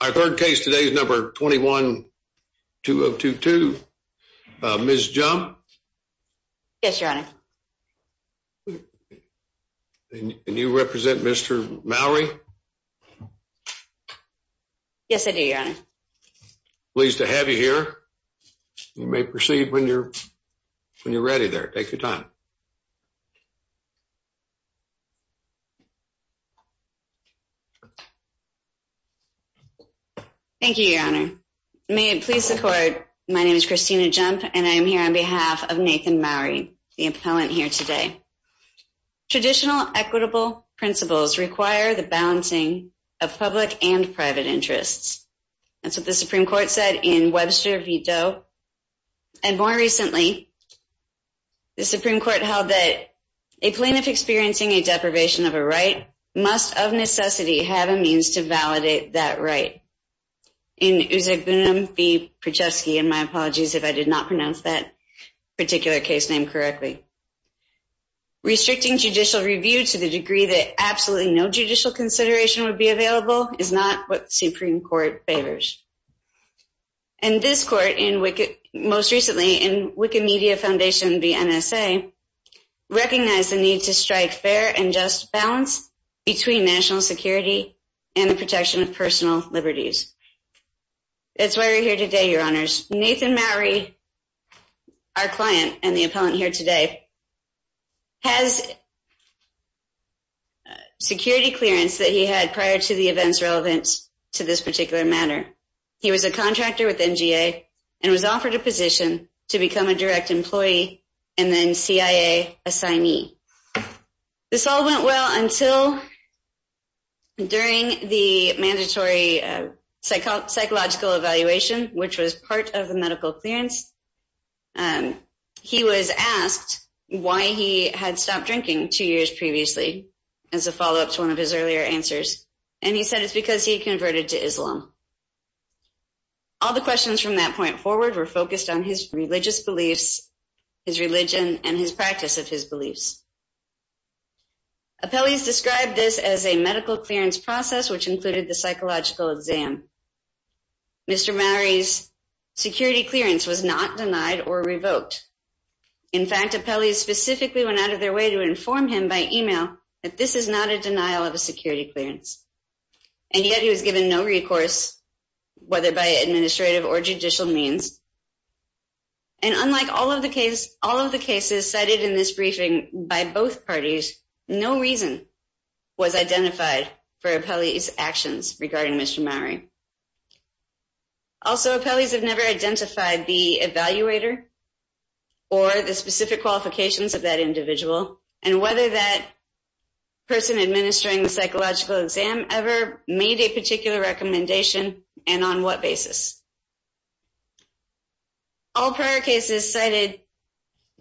Our third case today is number 21-2022. Ms. Jump? Yes your honor. Can you represent Mr. Mowery? Yes I do your honor. Pleased to have you here. You may proceed when you're when you're ready there. Take your time. Thank you your honor. May it please the court, my name is Christina Jump and I am here on behalf of Nathan Mowery, the appellant here today. Traditional equitable principles require the balancing of public and private interests. That's what the Supreme Court said in Webster v. Doe. And more recently, the Supreme Court held that a plaintiff experiencing a deprivation of a right must, of necessity, have a means to validate that right. In Uzegunum v. Prochesky, and my apologies if I did not pronounce that particular case name correctly. Restricting judicial review to the degree that absolutely no judicial consideration would be available is not what the Supreme Court favors. And this court, most recently in Wicked Media Foundation v. NSA, recognized the need to strike fair and just balance between national security and the protection of personal liberties. That's why we're here today your honors. Nathan Mowery, our client and the appellant here today, has security clearance that he had prior to the events relevant to this particular matter. He was a contractor with NGA and was a direct employee and then CIA assignee. This all went well until, during the mandatory psychological evaluation, which was part of the medical clearance, he was asked why he had stopped drinking two years previously, as a follow-up to one of his earlier answers. And he said it's because he converted to Islam. All the questions from that point forward were focused on his religious beliefs, his religion, and his practice of his beliefs. Appellees described this as a medical clearance process, which included the psychological exam. Mr. Mowery's security clearance was not denied or revoked. In fact, appellees specifically went out of their way to inform him by email that this is not a denial of a security clearance. And yet he was given no recourse, whether by administrative or by law. And unlike all of the cases cited in this briefing by both parties, no reason was identified for appellee's actions regarding Mr. Mowery. Also, appellees have never identified the evaluator or the specific qualifications of that individual and whether that person administering the psychological exam ever made a particular recommendation and on what basis. All prior cases cited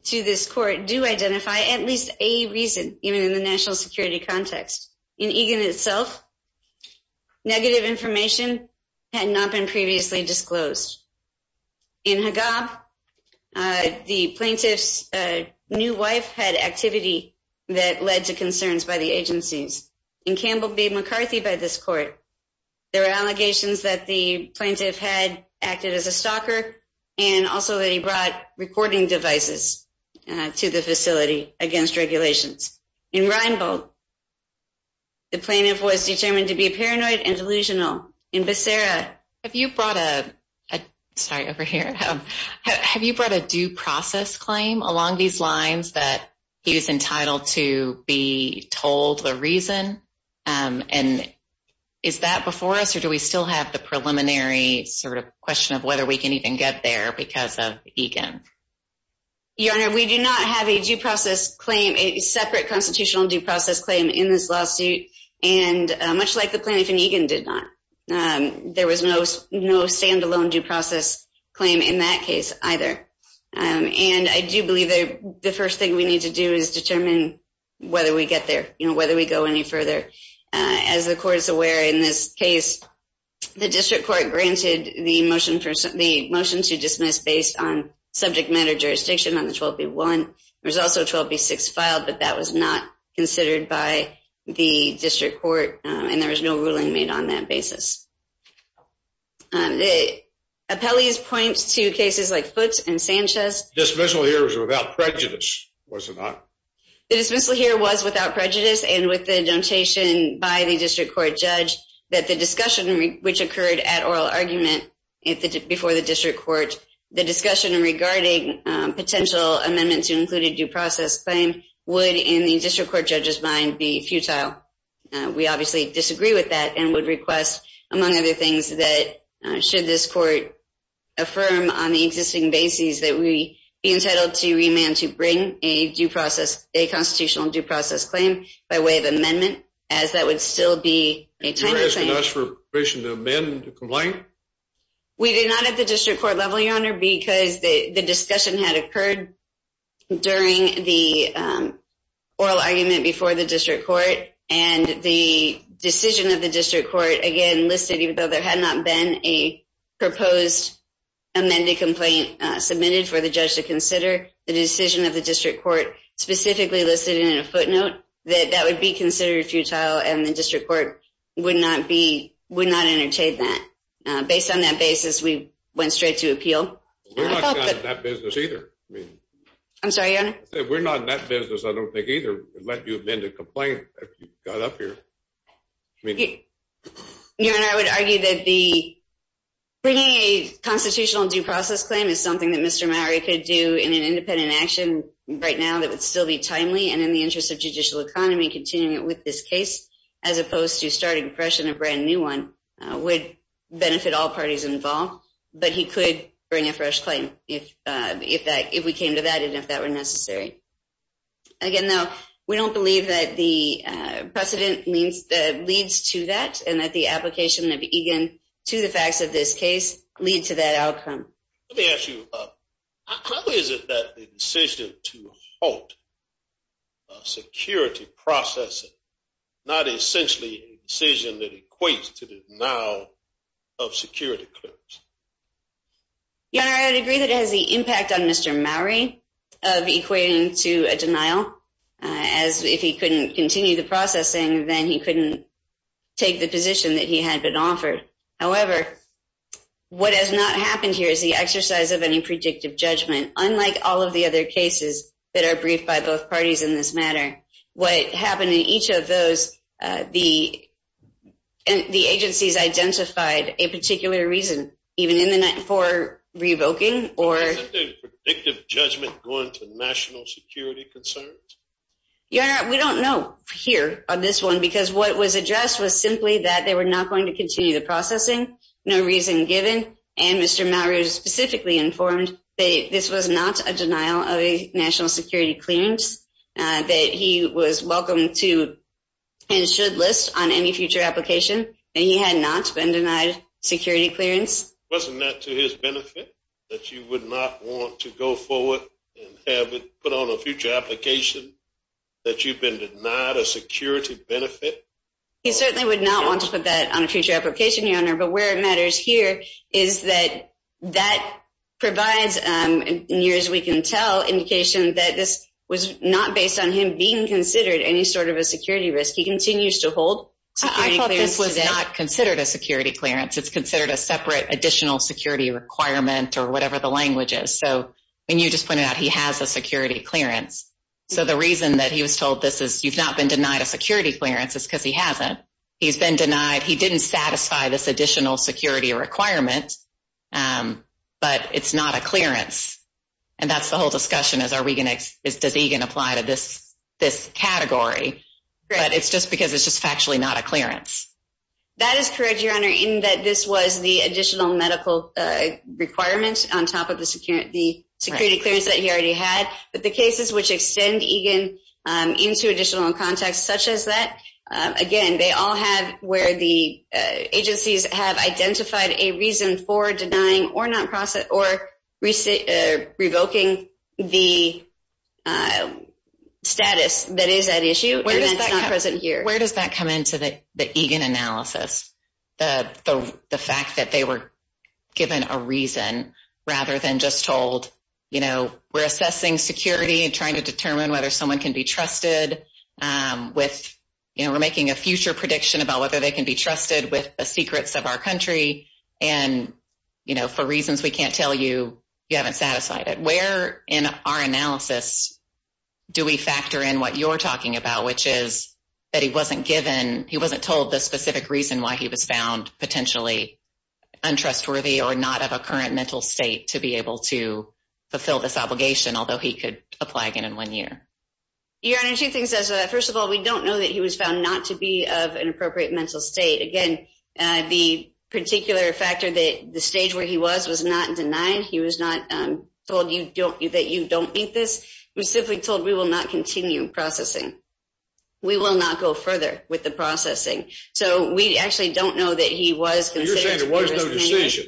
to this court do identify at least a reason, even in the national security context. In Egan itself, negative information had not been previously disclosed. In Haggab, the plaintiff's new wife had activity that led to concerns by the agencies. In Campbell v. McCarthy by this court, there were allegations that the plaintiff had acted as a stalker and also that he brought recording devices to the facility against regulations. In Reinbold, the plaintiff was determined to be paranoid and delusional. In Becerra, have you brought a due process claim along these lines that he was entitled to be told the reason? And is that before us or do we still have the preliminary sort of question of whether we can even get there because of Egan? Your Honor, we do not have a due process claim, a separate constitutional due process claim in this lawsuit and much like the plaintiff in Egan did not. There was no stand-alone due process claim in that case either. And I do believe the first thing we need to do is determine whether we get there, you know, whether we go any further. As the court is aware in this case, the district court granted the motion to dismiss based on subject matter jurisdiction on the 12b-1. There's also 12b-6 filed but that was not considered by the district court and there was no ruling made on that basis. The appellees point to cases like Foote and Sanchez. The dismissal here was without prejudice, was it not? The dismissal here was without prejudice and with the notation by the district court judge that the discussion which occurred at oral argument before the district court, the discussion regarding potential amendments to include a due process claim would in the district court judge's mind be futile. We obviously disagree with that and would request among other things that should this court affirm on the existing basis that we be entitled to remand to bring a due process, a constitutional due process claim by way of amendment as that would still be a timely claim. You're asking us for permission to amend the complaint? We did not at the district court level, Your Honor, because the discussion had occurred during the oral argument before the district court and the decision of the district court, again, listed even though there had not been a proposed amended complaint submitted for the judge to consider, the decision of the district court specifically listed in a footnote that that would be considered futile and the district court would not be, would not entertain that. Based on that basis, we went straight to appeal. We're not in that business either. I'm sorry, Your Honor? We're not in that business, I don't think either, to let you amend a complaint if you got up here. Your Honor, I would argue that bringing a constitutional due process claim is something that Mr. Mowrey could do in an independent action right now that would still be timely and in the interest of judicial economy, continuing with this case as opposed to starting fresh a brand new one would benefit all parties involved, but he could bring a fresh claim if we came to that and if that were necessary. Again, though, we don't believe that the precedent leads to that and that the application of Egan to the facts of this case lead to that outcome. Let me ask you, how is it that the decision to halt security processing, not essentially a decision that equates to the denial of security claims? Your Honor, I would agree that it has the impact on Mr. Mowrey of equating to a denial as if he couldn't continue the processing, then he couldn't take the position that he had been offered. However, what has not happened here is the exercise of any predictive judgment. Unlike all of the other cases that are briefed by both parties in this matter, what happened in each of those, the agencies identified a particular reason, even in the night before revoking or... Isn't the predictive judgment going to the national security concerns? Your Honor, we don't know here on this one because what was addressed was simply that they were not going to continue the processing, no reason given. And Mr. Mowrey specifically informed that this was not a denial of a national security clearance, that he was welcome to and should list on any future application, and he had not been denied security clearance. Wasn't that to his benefit, that you would not want to go forward and have it put on a future application, that you've been denied a security benefit? He certainly would not want to put that on a future application, Your Honor, but where it matters here is that that provides, near as we can tell, indication that this was not based on him being considered any sort of a security risk. He continues to hold security clearance today. I thought this was not considered a security clearance. It's considered a separate additional security requirement or whatever the language is. So, and you just pointed out he has a security clearance. So the reason that he was told this is you've not been denied a security clearance, it's because he hasn't. He's been denied, he didn't satisfy this additional security requirement, but it's not a clearance. And that's the whole discussion, is are we going to, does EGAN apply to this category? But it's just because it's just factually not a clearance. That is correct, Your Honor, in that this was the additional medical requirement on top of the security clearance that he already had. But the cases which extend EGAN into additional context such as that, again, they all have where the agencies have identified a reason for denying, or revoking the status that is at issue and that's not present here. Where does that come into the EGAN analysis? The fact that they were given a reason rather than just told, you know, we're assessing security and trying to determine whether someone can be trusted with, you know, we're making a future prediction about whether they can be trusted with reasons we can't tell you, you haven't satisfied it. Where in our analysis do we factor in what you're talking about? Which is that he wasn't given, he wasn't told the specific reason why he was found potentially untrustworthy or not of a current mental state to be able to fulfill this obligation, although he could apply again in one year. Your Honor, two things as, first of all, we don't know that he was found not to be of an appropriate mental state. Again, the particular factor that the stage where he was was not denied. He was not told that you don't meet this. He was simply told we will not continue processing. We will not go further with the processing. So, we actually don't know that he was considered. You're saying there was no decision.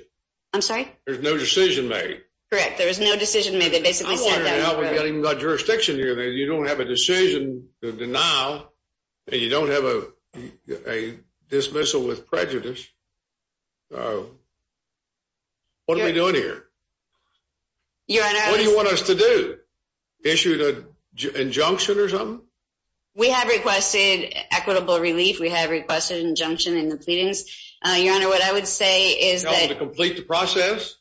I'm sorry? There's no decision made. Correct. There was no decision made. They basically said that. I'm wondering now, we haven't even got jurisdiction here. You don't have a decision to denial and you don't have a dismissal with prejudice. What are we doing here? Your Honor. What do you want us to do? Issue an injunction or something? We have requested equitable relief. We have requested injunction in the pleadings. Your Honor, what I would say is that. You want us to complete the process?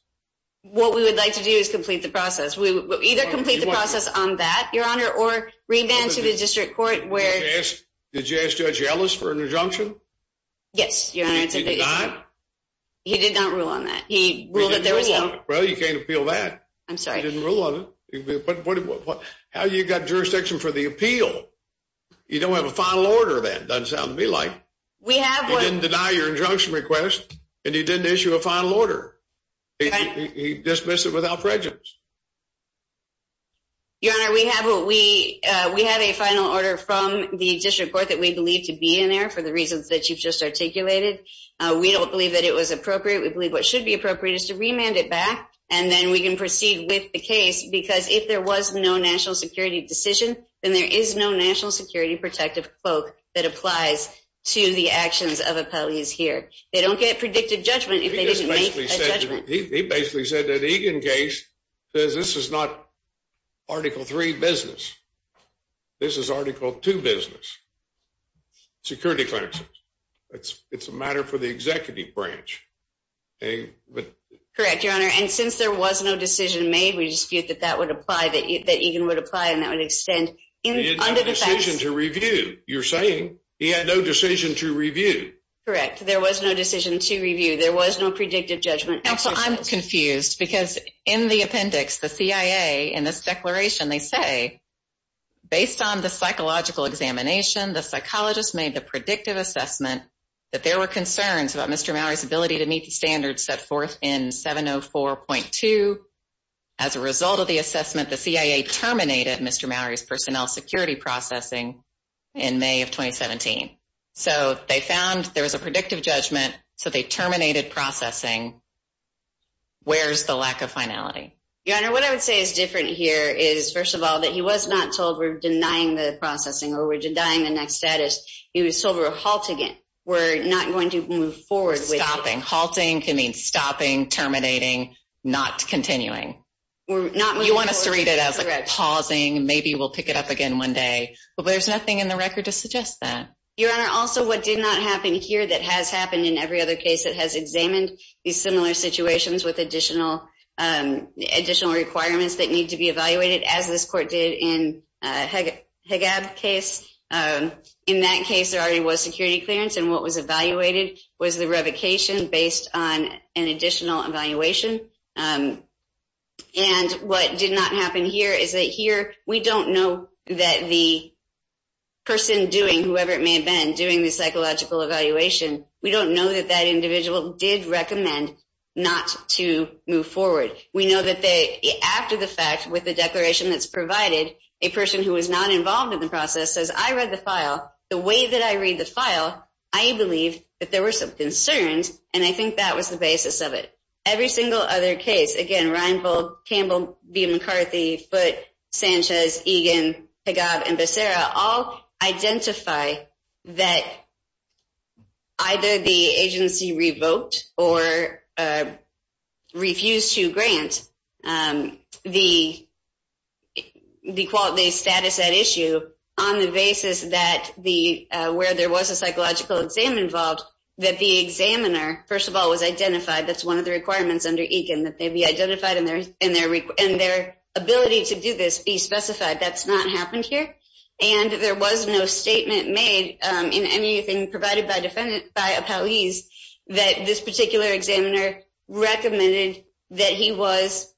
What we would like to do is complete the process. Either complete the process on that, Your Honor. Or revamp to the district court. Did you ask Judge Ellis for an injunction? Yes, Your Honor. Did he deny? He did not rule on that. He ruled that there was no. Well, you can't appeal that. I'm sorry. He didn't rule on it. How do you get jurisdiction for the appeal? You don't have a final order then. Doesn't sound to me like. We have one. He didn't deny your injunction request. And he didn't issue a final order. He dismissed it without prejudice. Your Honor, we have what we. We have a final order from the district court. That we believe to be in there. For the reasons that you've just articulated. We don't believe that it was appropriate. We believe what should be appropriate is to remand it back. And then we can proceed with the case. Because if there was no national security decision. Then there is no national security protective cloak. That applies to the actions of appellees here. They don't get predicted judgment. If they didn't make a judgment. He basically said that Egan case. Says this is not article 3 business. This is article 2 business. Security clerks. It's a matter for the executive branch. Correct, Your Honor. And since there was no decision made. We dispute that that would apply. That Egan would apply. And that would extend. He had no decision to review. You're saying he had no decision to review. Correct. There was no decision to review. There was no predictive judgment. Counsel, I'm confused. Because in the appendix, the CIA. In this declaration, they say. Based on the psychological examination. The psychologist made the predictive assessment. That there were concerns about Mr. Mallory's ability to meet the standards. Set forth in 704.2. As a result of the assessment. The CIA terminated Mr. Mallory's personnel security processing. In May of 2017. So they found there was a predictive judgment. So they terminated processing. Where's the lack of finality? Your Honor, what I would say is different here. Is first of all, that he was not told. We're denying the processing. Or we're denying the next status. He was told we're halting it. We're not going to move forward with stopping. Halting can mean stopping terminating. Not continuing. We're not. You want us to read it as like pausing. Maybe we'll pick it up again one day. But there's nothing in the record to suggest that. Your Honor, also what did not happen here. That has happened in every other case. It has examined. These similar situations with additional. Additional requirements that need to be evaluated. As this court did in Haggab case. In that case there already was security clearance. And what was evaluated was the revocation. Based on an additional evaluation. And what did not happen here. Is that here we don't know that the. Person doing whoever it may have been. Doing the psychological evaluation. We don't know that that individual. Did recommend not to move forward. We know that they after the fact. With the declaration that's provided. A person who was not involved in the process. Says I read the file. The way that I read the file. I believe that there were some concerns. And I think that was the basis of it. Every single other case. Again, Reinvold, Campbell, B McCarthy. Foote, Sanchez, Egan, Haggab and Becerra. All identify that. Either the agency revoked. Or refused to grant. The quality status at issue. On the basis that the. Where there was a psychological exam involved. That the examiner. First of all was identified. That's one of the requirements under Egan. That they be identified. And their ability to do this be specified. That's not happened here. And there was no statement made. In anything provided by defendant. By a police. That this particular examiner. Recommended that he was.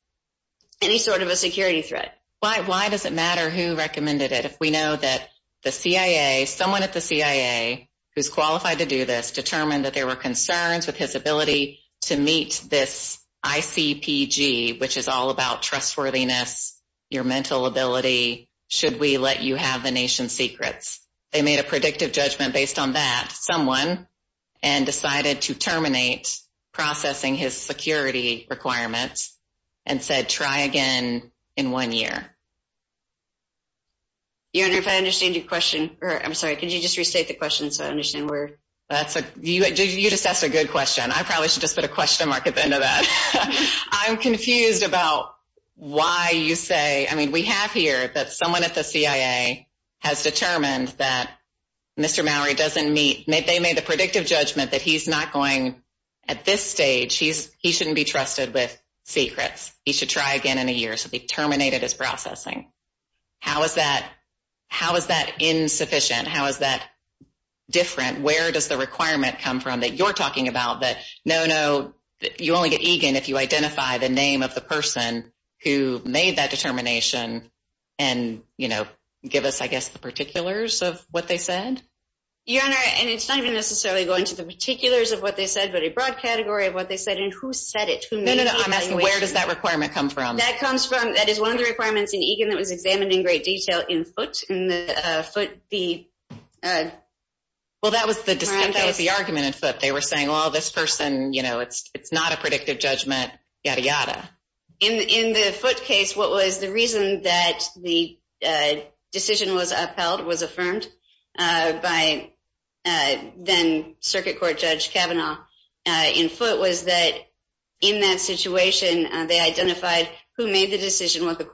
Any sort of a security threat. Why does it matter who recommended it? If we know that the CIA. Someone at the CIA. Who's qualified to do this. Determined that there were concerns. With his ability to meet this. ICPG which is all about trustworthiness. Your mental ability. Should we let you have the nation's secrets? They made a predictive judgment. Based on that someone. And decided to terminate. Processing his security requirements. And said try again in one year. You know if I understand your question. I'm sorry. Could you just restate the question? So I understand where. That's a you just asked a good question. I probably should just put a question mark. At the end of that. I'm confused about. Why you say. We have here. That someone at the CIA. Has determined that Mr. Mallory doesn't meet. They made the predictive judgment. That he's not going at this stage. He's he shouldn't be trusted with secrets. He should try again in a year. So they terminated his processing. How is that? How is that insufficient? How is that different? Where does the requirement come from? That you're talking about that? No, no, you only get Egan. If you identify the name of the person. Who made that determination? And you know, give us. I guess the particulars of what they said. Your Honor, and it's not even necessarily. Going to the particulars of what they said. But a broad category of what they said. And who said it to me? I'm asking where does that requirement come from? That comes from. That is one of the requirements in Egan. That was examined in great detail in foot. In the foot the. Well, that was the discussion. That was the argument in foot. They were saying, well, this person. You know, it's it's not a predictive judgment. Yada yada. In the foot case. What was the reason that the decision was upheld? Was affirmed by then Circuit Court Judge Kavanaugh in foot? Was that in that situation they identified? Who made the decision? What the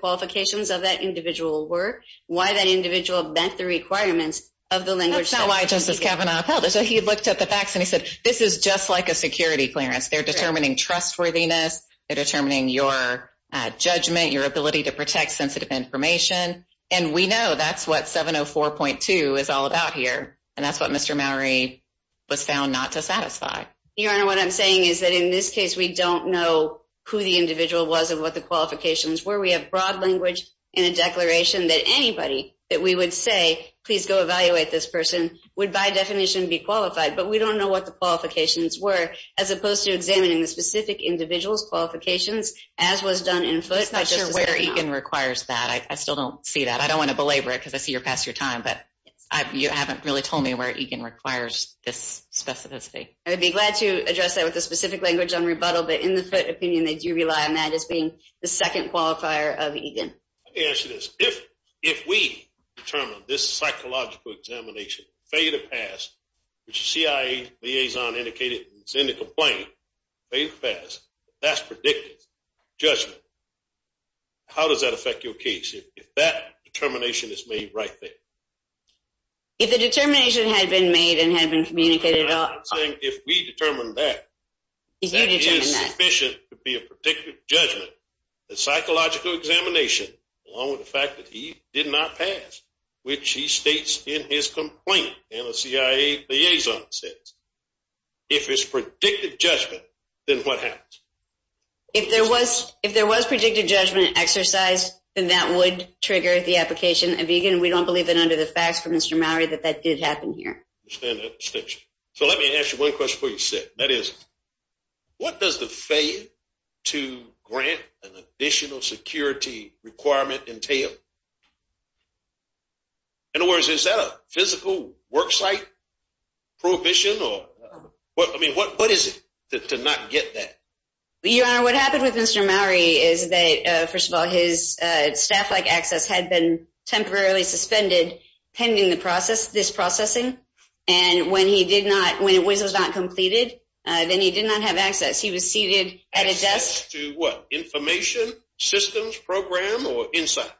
qualifications of that individual were? Why that individual met the requirements of the language? That's not why Justice Kavanaugh upheld it. So he looked at the facts and he said. This is just like a security clearance. They're determining trustworthiness. They're determining your judgment, your ability to protect sensitive information. And we know that's what 704.2 is all about here. And that's what Mr. Mowry was found not to satisfy. Your Honor, what I'm saying is that in this case, we don't know who the individual was and what the qualifications were. We have broad language in a declaration that anybody that we would say please go evaluate this person would by definition be qualified, but we don't know what the qualifications were. As opposed to examining the specific individual's qualifications as was done in foot. I'm not sure where Egan requires that. I still don't see that. I don't want to belabor it because I see you're past your time, but you haven't really told me where Egan requires this specificity. I would be glad to address that with a specific language on rebuttal, but in the foot opinion, they do rely on that as being the second qualifier of Egan. Let me ask you this. If we determine this psychological examination, failure to pass, which the CIA liaison indicated, it's in the complaint, failure to pass, that's predictive judgment. How does that affect your case if that determination is made right there? If the determination had been made and had been communicated at all. If we determine that, that is sufficient to be a predictive judgment. The psychological examination along with the fact that he did not pass, which he states in his complaint and the CIA liaison says, if it's predictive judgment, then what happens? If there was predictive judgment exercised, then that would trigger the application of Egan. We don't believe that under the facts from Mr. Mallory that that did happen here. So let me ask you one question before you sit. That is, what does the failure to grant an additional security requirement entail? In other words, is that a physical worksite prohibition or what, I mean, what is it to not get that? Your Honor, what happened with Mr. Mallory is that, first of all, his staff-like access had been temporarily suspended pending the process, this processing, and when he did not, when it was not completed, then he did not have access. He was seated at a desk. Access to what, information, systems, program, or insight?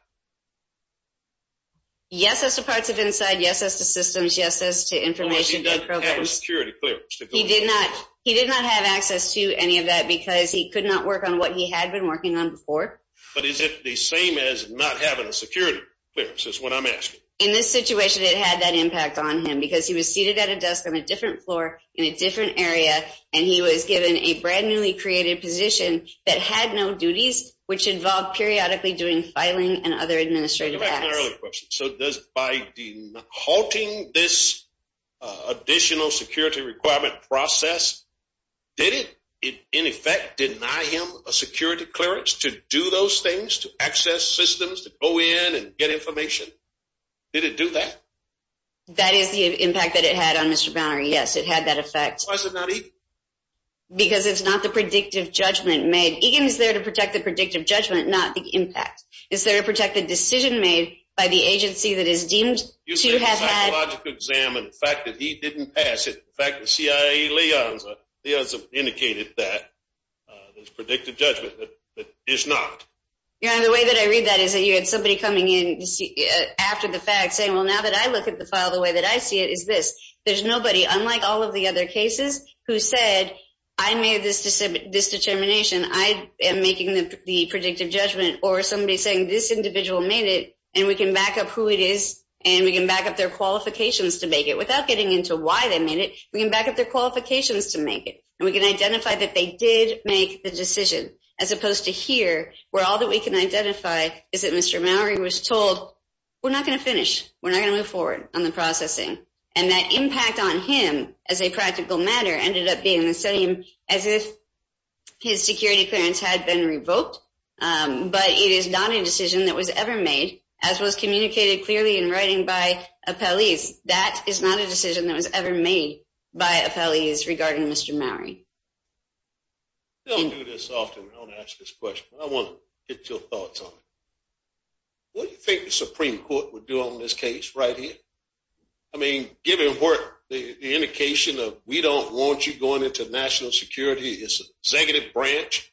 Yes, as to parts of insight. Yes, as to systems. Yes, as to information and programs. Unless he doesn't have a security clearance. He did not have access to any of that because he could not work on what he had been working on before. But is it the same as not having a security clearance, is what I'm asking. In this situation, it had that impact on him because he was seated at a desk on a different floor in a different area, and he was given a brand-newly created position that had no duties, which involved periodically doing filing and other administrative acts. Let me ask another question. So by halting this additional security requirement process, did it, in effect, deny him a security clearance to do those things, to access systems, to go in and get information? Did it do that? That is the impact that it had on Mr. Bowner, yes. It had that effect. Why is it not EGIM? Because it's not the predictive judgment made. EGIM is there to protect the predictive judgment, not the impact. Is there a protected decision made by the agency that is deemed to have had- You said the psychological exam and the fact that he didn't pass it. In fact, the CIA liaison has indicated that there's predictive judgment that is not. The way that I read that is that you had somebody coming in after the fact saying, well, now that I look at the file the way that I see it is this. There's nobody, unlike all of the other cases, who said, I made this determination. I am making the predictive judgment. Or somebody saying, this individual made it, and we can back up who it is, and we can back up their qualifications to make it. Without getting into why they made it, we can back up their qualifications to make it. And we can identify that they did make the decision, as opposed to here, where all that we can identify is that Mr. Mowery was told, we're not going to finish. We're not going to move forward on the processing. And that impact on him as a practical matter ended up being the same as if his security clearance had been revoked. But it is not a decision that was ever made, as was communicated clearly in writing by appellees. That is not a decision that was ever made by appellees regarding Mr. Mowery. I don't do this often. I don't ask this question. But I want to get your thoughts on it. What do you think the Supreme Court would do on this case right here? I mean, given what the indication of, we don't want you going into national security, it's an executive branch.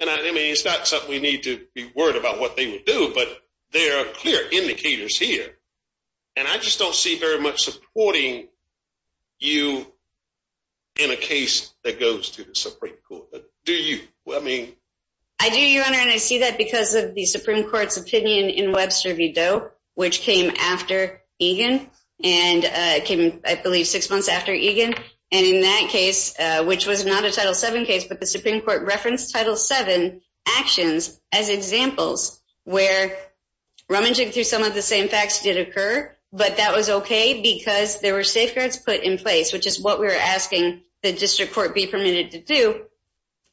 And I mean, it's not something we need to be worried about what they would do. But there are clear indicators here. And I just don't see very much supporting you in a case that goes to the Supreme Court. Do you? I do, Your Honor. And I see that because of the Supreme Court's opinion in Webster v. Doe, which came after Egan. And it came, I believe, six months after Egan. And in that case, which was not a Title VII case, but the Supreme Court referenced Title VII actions as examples where rummaging through some of the same facts did occur. But that was OK because there were safeguards put in place, which is what we were asking the district court be permitted to do,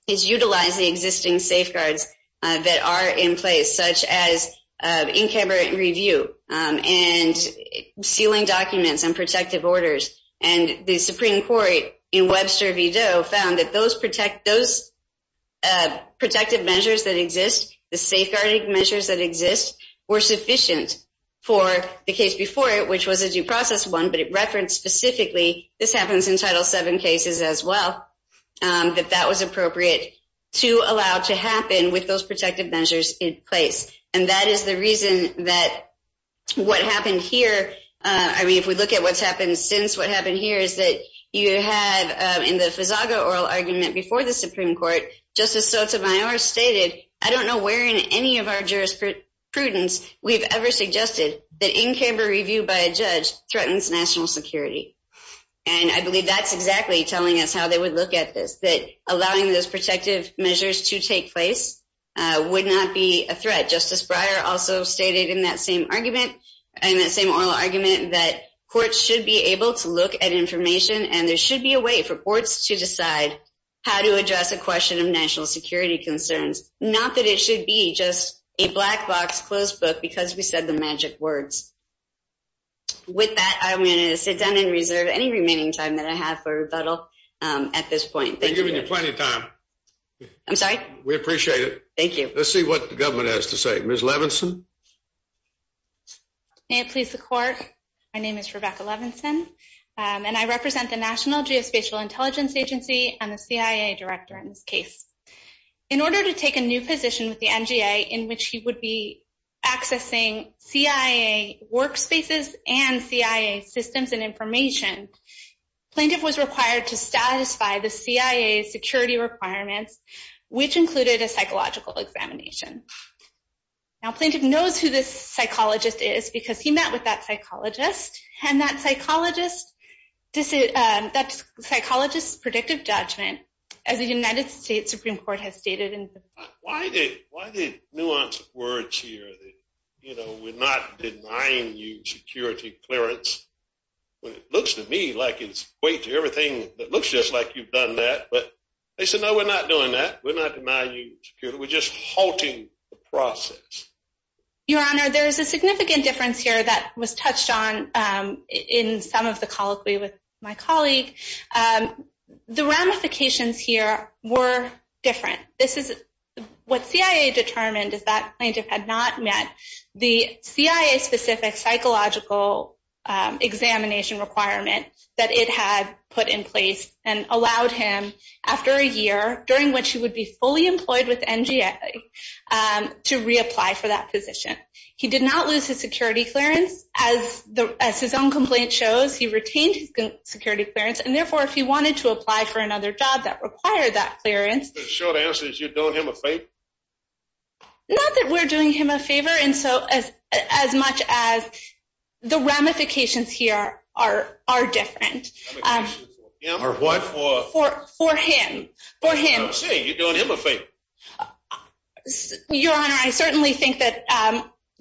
is utilize the existing safeguards that are in place, such as in-camera review and sealing documents and protective orders. And the Supreme Court in Webster v. Doe found that those protective measures that exist, the safeguarding measures that exist, were sufficient for the case before it, which was a due process one. But it referenced specifically, this happens in Title VII cases as well, that that was appropriate to allow to happen with those protective measures in place. And that is the reason that what happened here, I mean, if we look at what's happened since, what happened here is that you have, in the Fazaga oral argument before the Supreme Court, Justice Sotomayor stated, I don't know where in any of our jurisprudence we've ever suggested that in-camera review by a judge threatens national security. And I believe that's exactly telling us how they would look at this, that allowing those protective measures to take place would not be a threat. Justice Breyer also stated in that same oral argument that courts should be able to look at information and there should be a way for courts to decide how to address a question of national security concerns, not that it should be just a black box closed book because we said the magic words. With that, I'm going to sit down and reserve any remaining time that I have for rebuttal at this point. Thank you. We've been giving you plenty of time. I'm sorry? We appreciate it. Thank you. Let's see what the government has to say. Ms. Levinson? May it please the court, my name is Rebecca Levinson and I represent the National Geospatial Intelligence Agency and the CIA director in this case. In order to take a new position with the NGA in which he would be accessing CIA workspaces and CIA systems and information, plaintiff was required to satisfy the CIA's security requirements, which included a psychological examination. Now, plaintiff knows who this psychologist is because he met with that psychologist and that psychologist's predictive judgment as the United States Supreme Court has stated in the- Why the nuanced words here that we're not denying you security clearance when it looks to me like it's way to everything that looks just like you've done that. But they said, no, we're not doing that. We're not denying you security. We're just halting the process. Your Honor, there is a significant difference here that was touched on in some of the colloquy with my colleague. The ramifications here were different. This is what CIA determined is that plaintiff had not met the CIA specific psychological examination requirement that it had put in place and allowed him after a year during which he would be fully employed with the NGA to reapply for that position. He did not lose his security clearance. As his own complaint shows, he retained his security clearance. And therefore, if he wanted to apply for another job that required that clearance- The short answer is you're doing him a favor? Not that we're doing him a favor. And so as much as the ramifications here are different. Ramifications for him? Or what for? For him. For him. You're doing him a favor. Your Honor, I certainly think that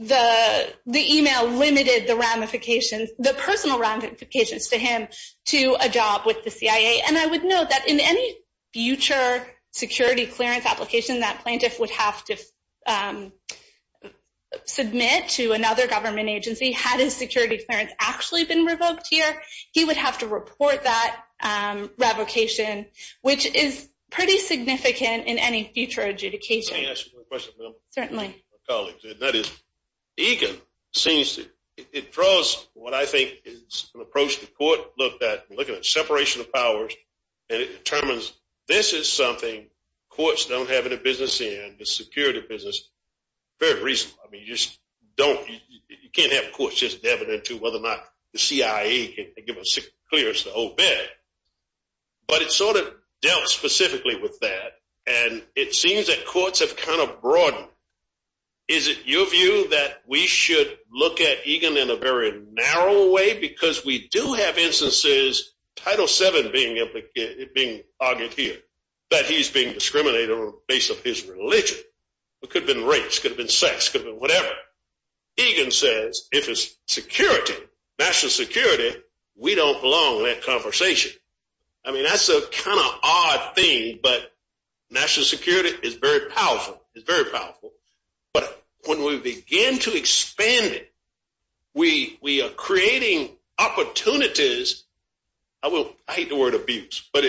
the email limited the ramifications, the personal ramifications to him to a job with the CIA. And I would note that in any future security clearance application that plaintiff would have to submit to another government agency had his security clearance actually been revoked here, he would have to report that revocation, which is pretty significant in any future adjudication. Can I ask you one question, ma'am? Certainly. Colleagues, that is, Egan seems to- it draws what I think is an approach the court looked at, looking at separation of powers. And it determines this is something courts don't have any business in, the security business, very reasonable. I mean, you just don't- you can't have courts just dabbing into whether or not the CIA can give a clearance to obey. But it sort of dealt specifically with that. And it seems that courts have kind of broadened. Is it your view that we should look at Egan in a very narrow way? Because we do have instances, Title VII being argued here, that he's being discriminated on the basis of his religion. It could have been race, could have been sex, could have been whatever. Egan says, if it's security, national security, we don't belong in that conversation. I mean, that's a kind of odd thing. But national security is very powerful. It's very powerful. But when we begin to expand it, we are creating opportunities. I will- I hate the word abuse. But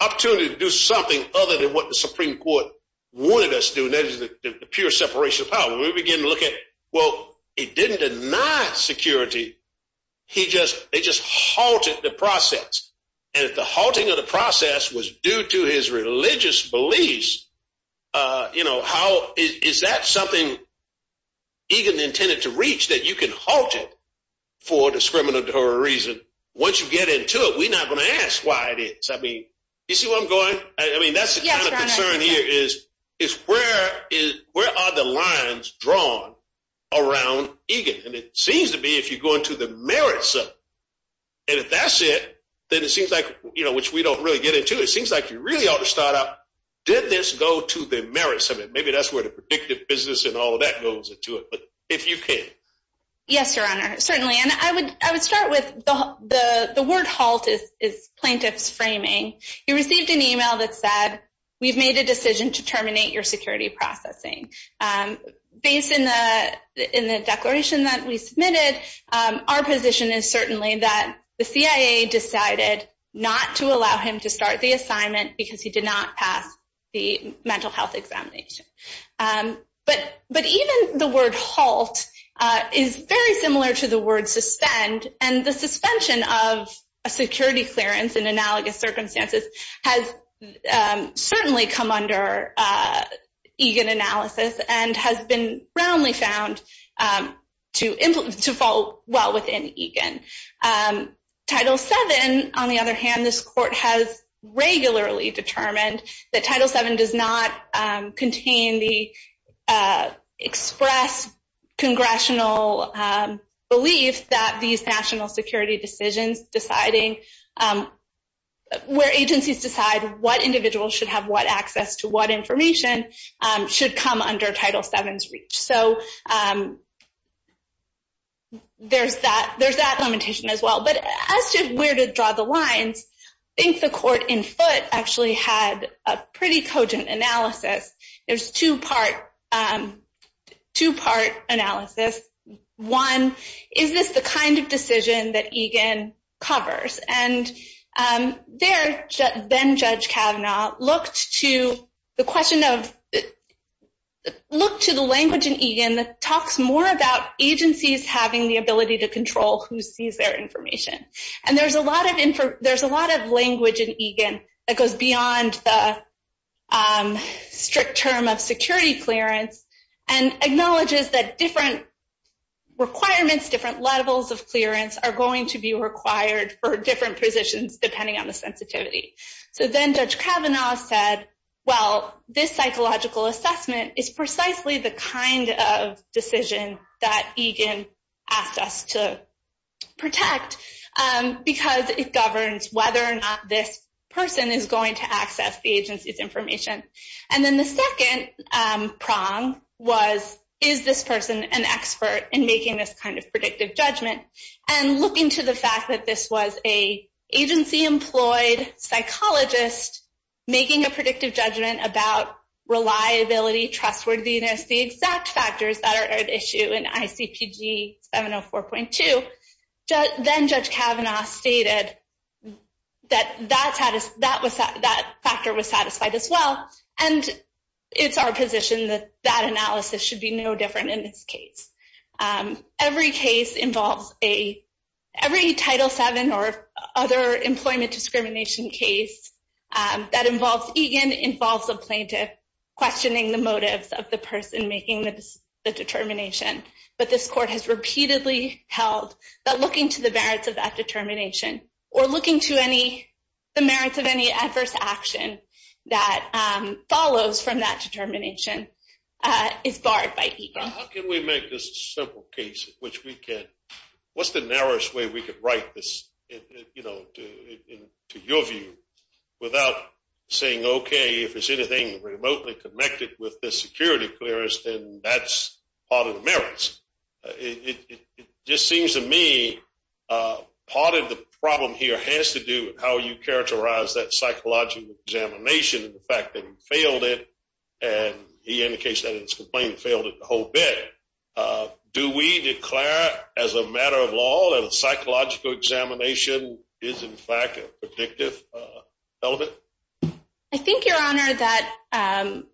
opportunity to do something other than what the Supreme Court wanted us to do, and that is the pure separation of powers. We begin to look at, well, he didn't deny security. He just- they just halted the process. And if the halting of the process was due to his religious beliefs, you know, how- is that something Egan intended to reach, that you can halt it for a discriminatory reason? Once you get into it, we're not going to ask why it is. I mean, you see where I'm going? I mean, that's the kind of concern here, is where are the lines drawn around Egan? And it seems to be if you go into the merits of it. And if that's it, then it seems like, you know, which we don't really get into, it seems like you really ought to start out, did this go to the merits of it? Maybe that's where the predictive business and all of that goes into it. But if you can. Yes, Your Honor. Certainly. And I would start with the word halt is plaintiff's framing. You received an email that said, we've made a decision to terminate your security processing. Based in the declaration that we submitted, our position is certainly that the CIA decided not to allow him to start the assignment because he did not pass the mental health examination. But even the word halt is very similar to the word suspend. And the suspension of a security clearance in analogous circumstances has certainly come under Egan analysis and has been roundly found to fall well within Egan. Title VII, on the other hand, this court has regularly determined that Title VII does not contain the express congressional belief that these national security decisions deciding where agencies decide what individuals should have what access to what information should come under Title VII's reach. So there's that limitation as well. But as to where to draw the lines, I think the court in foot actually had a pretty cogent analysis. There's two-part analysis. One, is this the kind of decision that Egan covers? And then Judge Kavanaugh looked to the language in Egan that talks more about agencies having the ability to control who sees their information. And there's a lot of language in Egan that goes beyond the strict term of security clearance and acknowledges that different requirements, different levels of clearance are going to be required for different positions, depending on the sensitivity. So then Judge Kavanaugh said, well, this psychological assessment is precisely the kind of decision that Egan asked us to protect. Because it governs whether or not this person is going to access the agency's information. And then the second prong was, is this person an expert in making this kind of predictive judgment? And looking to the fact that this was a agency-employed psychologist making a predictive judgment about reliability, trustworthiness, the exact factors that are at issue in ICPG 704.2, then Judge Kavanaugh stated that that factor was satisfied as well. And it's our position that that analysis should be no different in this case. Every case involves a, every Title VII or other employment discrimination case that involves Egan involves a plaintiff questioning the motives of the person making the determination. But this court has repeatedly held that looking to the merits of that determination or looking to the merits of any adverse action that follows from that determination is barred by Egan. How can we make this a simple case in which we can, what's the narrowest way we could write this, you know, to your view without saying, okay, if it's anything remotely connected with the security clearance, then that's part of the merits. It just seems to me part of the problem here has to do with how you characterize that psychological examination and the fact that he failed it. And he indicates that his complaint failed the whole bit. Do we declare as a matter of law that a psychological examination is in fact a predictive element? I think your honor that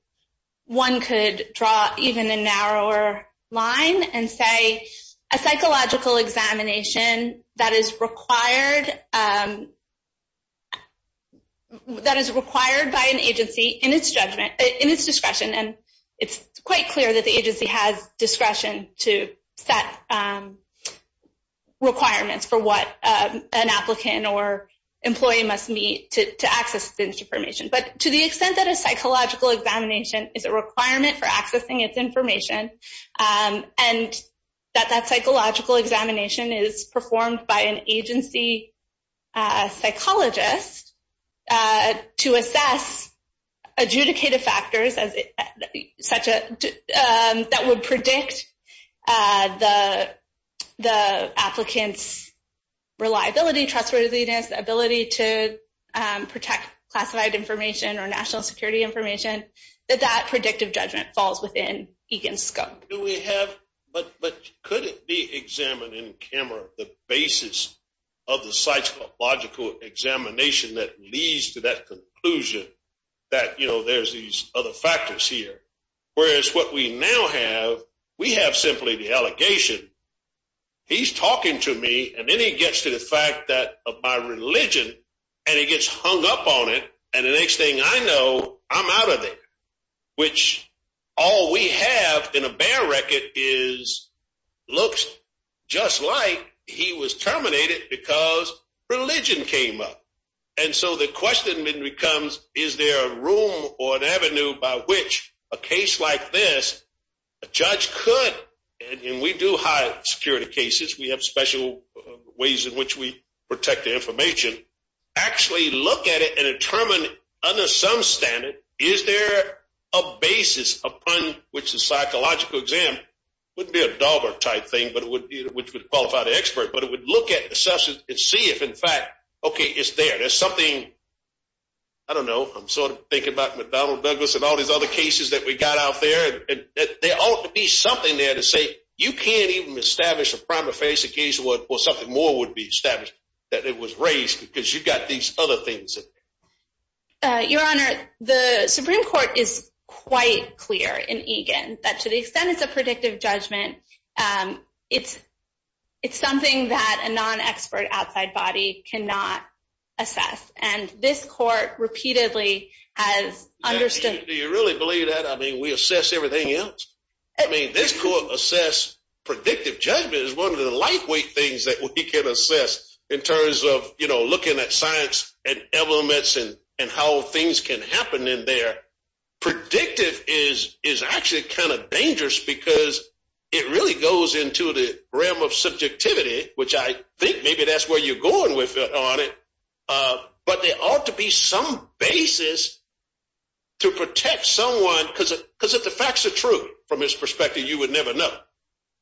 one could draw even a narrower line and say a psychological examination that is required, that is required by an agency in its judgment, in its discretion. And it's quite clear that the agency has discretion to set requirements for what an applicant or employee must meet to access this information. But to the extent that a psychological examination is a requirement for accessing its information and that that psychological examination is performed by an agency psychologist to assess adjudicated factors that would predict the applicant's reliability, trustworthiness, ability to protect classified information or national security information, that that predictive judgment falls within EGAN's scope. Do we have, but could it be examined in camera the basis of the psychological examination that leads to that conclusion that there's these other factors here? Whereas what we now have, we have simply the allegation, he's talking to me and then he gets to the fact that of my religion and he gets hung up on it. And the next thing I know, I'm out of there. Which all we have in a bear record is looks just like he was terminated because religion came up. And so the question then becomes, is there a room or an avenue by which a case like this, a judge could, and we do high security cases, we have special ways in which we protect the information, actually look at it and determine under some standard, is there a basis upon which the psychological exam wouldn't be a dog or type thing, but it would be, which would qualify the expert, but it would look at the substance and see if in fact, okay, it's there. There's something, I don't know, I'm sort of thinking about McDonnell Douglas and all these other cases that we got out there. There ought to be something there to say, you can't even establish a prime of face in case of what something more would be established that it was raised because you've got these other things in there. Your Honor, the Supreme Court is quite clear in EGAN that to the extent it's a predictive judgment, it's something that a non-expert outside body cannot assess. And this court repeatedly has understood. Do you really believe that? I mean, we assess everything else. I mean, this court assess predictive judgment is one of the lightweight things that we can assess in terms of looking at science and elements and how things can happen in there. Predictive is actually kind of dangerous because it really goes into the realm of subjectivity, which I think maybe that's where you're going with it on it, but there ought to be some basis to protect someone because if the facts are true from his perspective, you would never know.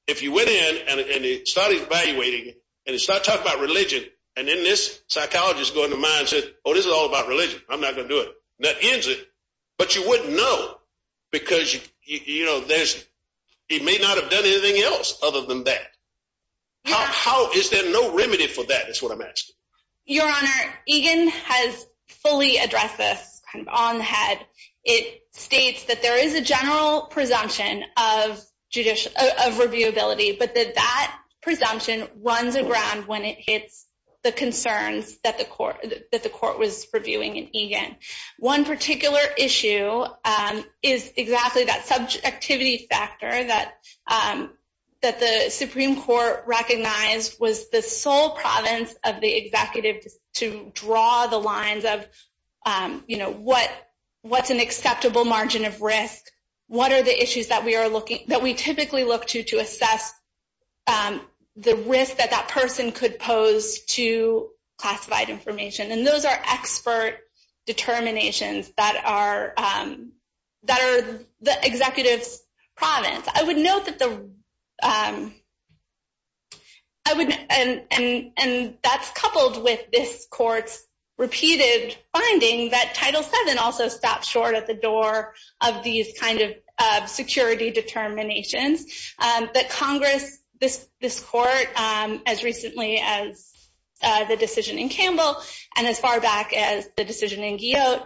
If you went in and he started evaluating and he started talking about religion and then this psychologist going to mind said, oh, this is all about religion. I'm not gonna do it. That ends it, but you wouldn't know because he may not have done anything else other than that. How is there no remedy for that is what I'm asking? Your Honor, EGAN has fully addressed this on the head. It states that there is a general presumption of reviewability, but that that presumption runs aground when it hits the concerns that the court was reviewing in EGAN. One particular issue is exactly that subjectivity factor that the Supreme Court recognized was the sole province of the executive to draw the lines of what's an acceptable margin of risk, what are the issues that we typically look to to assess the risk that that person could pose to classified information, and those are expert determinations that are the executive's province. I would note that the... That's coupled with this court's repeated finding that Title VII also stopped short at the door of these kind of security determinations as recently as the decision in Campbell, as far back as the decision in Guyot,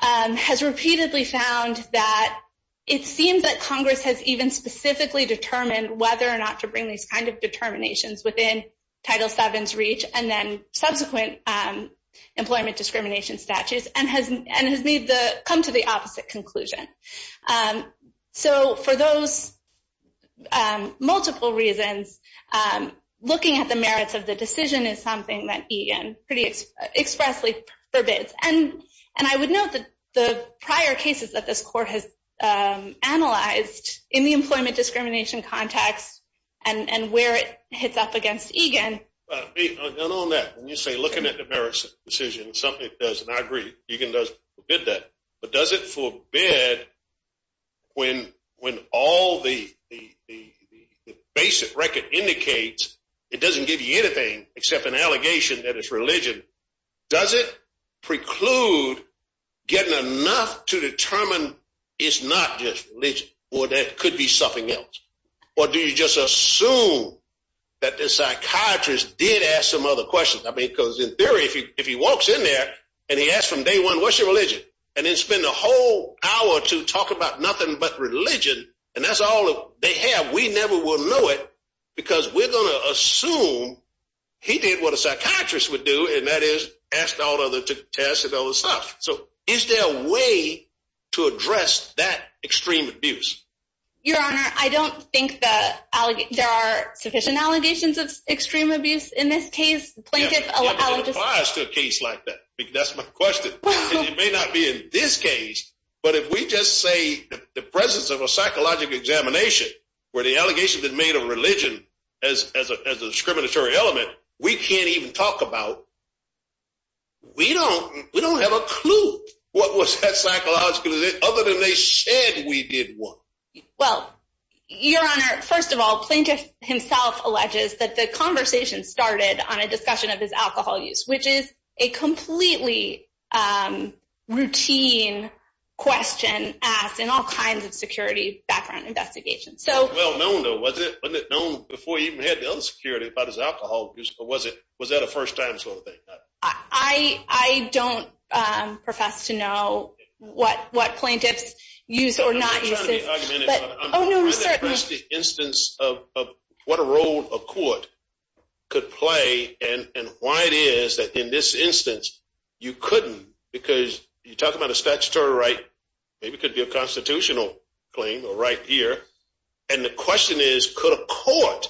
has repeatedly found that it seems that Congress has even specifically determined whether or not to bring these kind of determinations within Title VII's reach and then subsequent employment discrimination statutes and has come to the opposite conclusion. So for those multiple reasons, looking at the merits of the decision is something that EGAN pretty expressly forbids. And I would note that the prior cases that this court has analyzed in the employment discrimination context and where it hits up against EGAN... But, Bea, and on that, when you say looking at the merits of the decision, something it does, and I agree, EGAN does forbid that, but does it forbid when all the basic record indicates it doesn't give you anything except an allegation that it's religion? Does it preclude getting enough to determine it's not just religion or there could be something else? Or do you just assume that the psychiatrist did ask some other questions? I mean, because in theory, if he walks in there and he asks from day one, what's your religion? And then spend a whole hour to talk about nothing but religion, and that's all they have, we never will know it because we're going to assume he did what a psychiatrist would do, and that is asked all other to test and other stuff. So is there a way to address that extreme abuse? Your Honor, I don't think that there are sufficient allegations of extreme abuse in this case. Yeah, but it applies to a case like that. That's my question. And it may not be in this case, but if we just say the presence of a psychological examination where the allegations that made a religion as a discriminatory element, we can't even talk about. We don't have a clue what was that psychologically, other than they said we did what? Well, Your Honor, first of all, plaintiff himself alleges that the conversation started on a discussion of his alcohol use, which is a completely routine question asked in all kinds of security background investigations. Well known though, wasn't it? Wasn't it known before he even had the other security about his alcohol use? Or was that a first time sort of thing? I don't profess to know what plaintiffs use or not use. I'm not trying to be argumentative, but I'm trying to address the instance of what a role a court could play and why it is that in this instance you couldn't because you're talking about a statutory right, maybe it could be a constitutional claim or right here. And the question is, could a court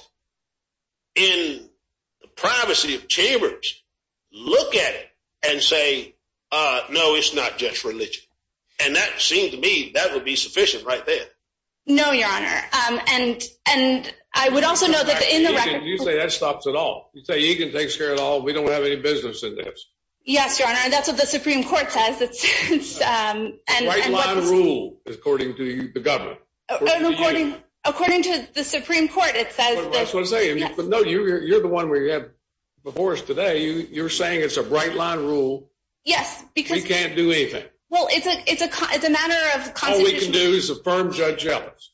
in the privacy of chambers look at it and say, no, it's not just religion. And that seemed to me, that would be sufficient right there. No, Your Honor. And I would also know that in the record- You say that stops it all. You say Egan takes care of it all. We don't have any business in this. Yes, Your Honor. And that's what the Supreme Court says. It's a bright line rule according to the government. According to the Supreme Court, it says- That's what I'm saying. But no, you're the one we have before us today. You're saying it's a bright line rule. Yes, because- He can't do anything. Well, it's a matter of constitutional- All we can do is affirm Judge Ellis.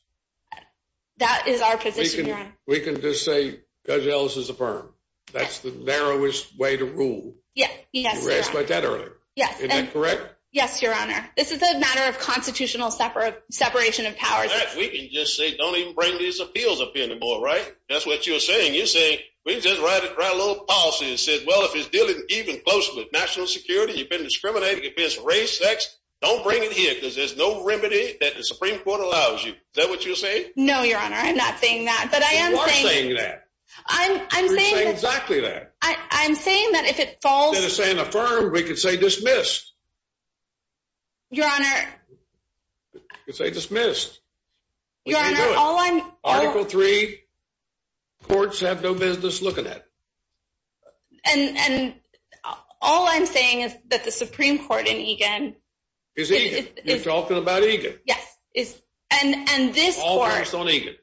That is our position, Your Honor. We can just say Judge Ellis is affirmed. That's the narrowest way to rule. Yes, Your Honor. You asked about that earlier. Yes. Is that correct? Yes, Your Honor. This is a matter of constitutional separation of powers. We can just say don't even bring these appeals up anymore, right? That's what you're saying. You're saying we can just write a little policy that says, well, if it's dealing even closely with national security, you've been discriminating against race, sex, don't bring it here because there's no remedy that the Supreme Court allows you. Is that what you're saying? No, Your Honor. I'm not saying that. But I am saying- You are saying that. I'm saying- You're saying exactly that. I'm saying that if it falls- Instead of saying affirmed, we could say dismissed. Your Honor- You could say dismissed. Your Honor, all I'm- Article 3, courts have no business looking at. And all I'm saying is that the Supreme Court in Egan- Is Egan. You're talking about Egan. Yes. And this court- All based on Egan.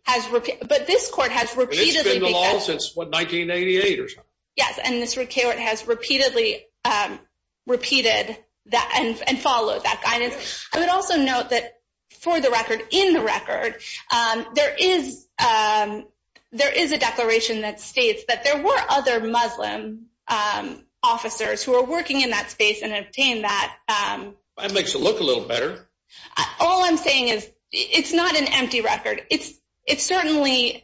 But this court has repeatedly- It's been the law since, what, 1988 or something. Yes, and this court has repeatedly repeated and followed that guidance. I would also note that for the record, in the record, there is a declaration that states that there were other Muslim officers who were working in that space and obtained that- That makes it look a little better. All I'm saying is, it's not an empty record. It's certainly-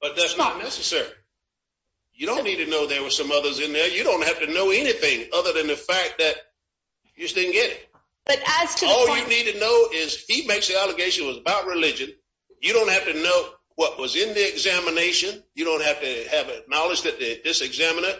But that's not necessary. You don't need to know there were some others in there. You don't have to know anything other than the fact that you just didn't get it. But as to the- All you need to know is he makes the allegation was about religion. You don't have to know what was in the examination. You don't have to have a knowledge that this examiner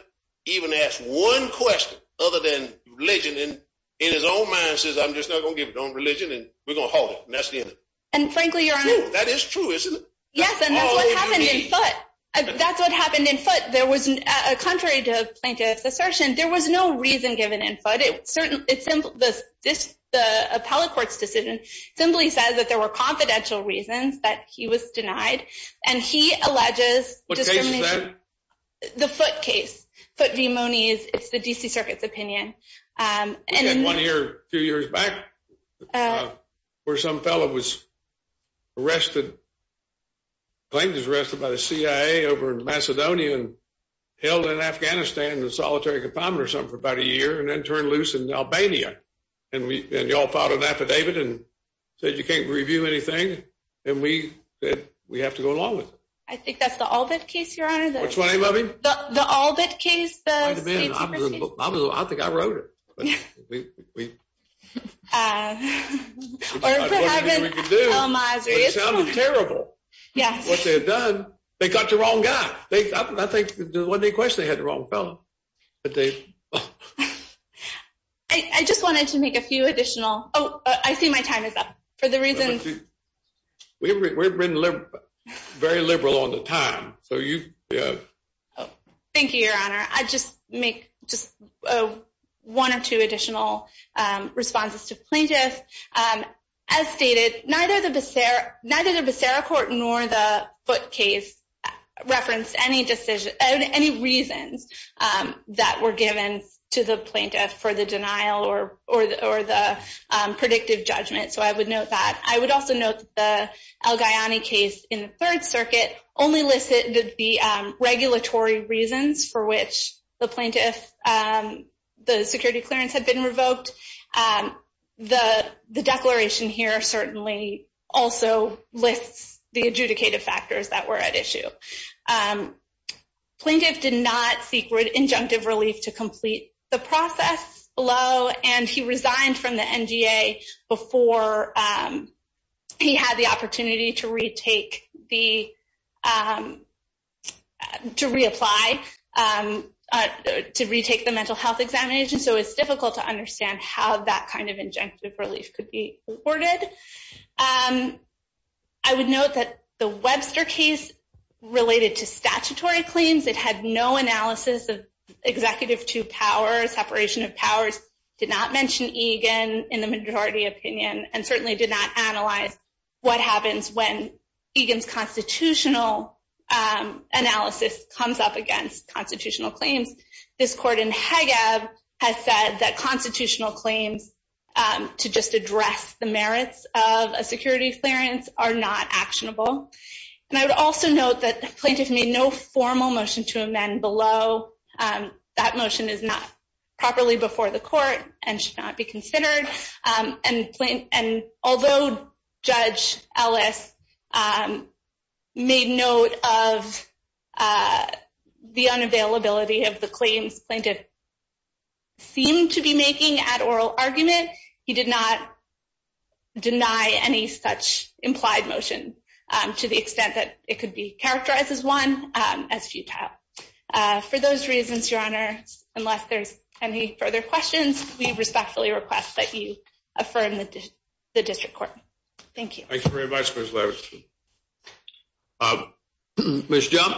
even asked one question other than religion, and in his own mind says, I'm just not going to give it on religion, and we're going to hold it. And that's the end of it. And frankly, Your Honor- That is true, isn't it? Yes, and that's what happened in foot. That's what happened in foot. There was, contrary to the plaintiff's assertion, there was no reason given in foot. The appellate court's decision simply says that there were confidential reasons that he was denied, and he alleges- What case is that? The foot case. Foot v. Moniz. It's the D.C. Circuit's opinion. We had one here a few years back where some fellow was arrested, the plaintiff was arrested by the CIA over in Macedonia and held in Afghanistan in a solitary confinement or something for about a year, and then turned loose in Albania. And y'all filed an affidavit and said you can't review anything, and we said we have to go along with it. I think that's the Allbit case, Your Honor. What's the name of him? The Allbit case. I think I wrote it. We- It sounded terrible, what they had done. They got the wrong guy. I think there wasn't any question they had the wrong fellow. I just wanted to make a few additional- Oh, I see my time is up. For the reason- We've been very liberal on the time, so you- Thank you, Your Honor. I'll just make one or two additional responses to plaintiff. As stated, neither the Becerra Court nor the Foote case referenced any reasons that were given to the plaintiff for the denial or the predictive judgment, so I would note that. I would also note that the El-Gayany case in the Third Circuit only listed the regulatory reasons for which the plaintiff, the security clearance had been revoked. The declaration here certainly also lists the adjudicative factors that were at issue. Plaintiff did not seek injunctive relief to complete the process below, and he resigned from the NGA before he had the opportunity to reapply to retake the mental health examination, so it's difficult to understand how that kind of injunctive relief could be afforded. I would note that the Webster case related to statutory claims. It had no analysis of executive two powers, separation of powers, did not mention Egan in the majority opinion, and certainly did not analyze what happens when Egan's constitutional analysis comes up against constitutional claims. This court in Hagueb has said that constitutional claims to just address the merits of a security clearance are not actionable, and I would also note that the plaintiff made no formal motion to amend below. That motion is not properly before the court and should not be considered, and although Judge Ellis made note of the unavailability of the claims plaintiff seemed to be making at oral argument, he did not deny any such implied motion to the extent that it could be characterized as one as futile. For those reasons, Your Honor, unless there's any further questions, we respectfully request that you affirm the district court. Thank you. Thank you very much, Ms. Leverson. Ms. Jump?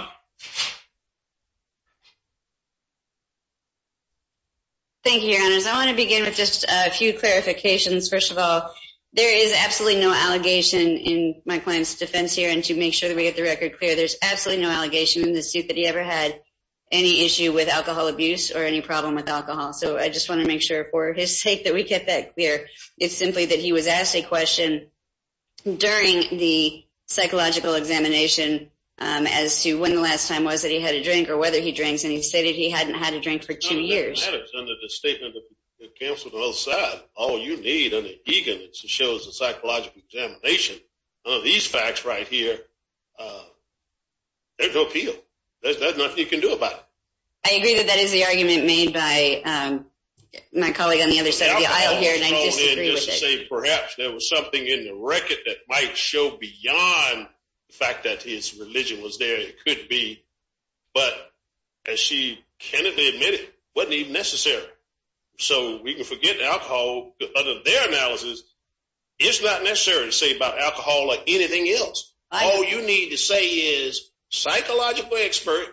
Thank you, Your Honors. I want to begin with just a few clarifications. First of all, there is absolutely no allegation in my client's defense here, and to make sure that we get the record clear, there's absolutely no allegation in the suit that he ever had any issue with alcohol abuse or any problem with alcohol. So I just want to make sure for his sake that we get that clear. It's simply that he was asked a question during the psychological examination as to when the last time was that he had a drink or whether he drinks, and he stated he hadn't had a drink for two years. No, that matters. Under the statement of the counsel on the other side, all you need, under Egan, is to show as a psychological examination of these facts right here, there's no appeal. There's nothing you can do about it. I agree that that is the argument made by my colleague on the other side of the aisle here, and I disagree with it. I was going in just to say perhaps there was something in the record that might show beyond the fact that his religion was there. It could be, but as she candidly admitted, it wasn't even necessary. So we can forget alcohol. Under their analysis, it's not necessary to say about alcohol like anything else. All you need to say is, psychologically expert,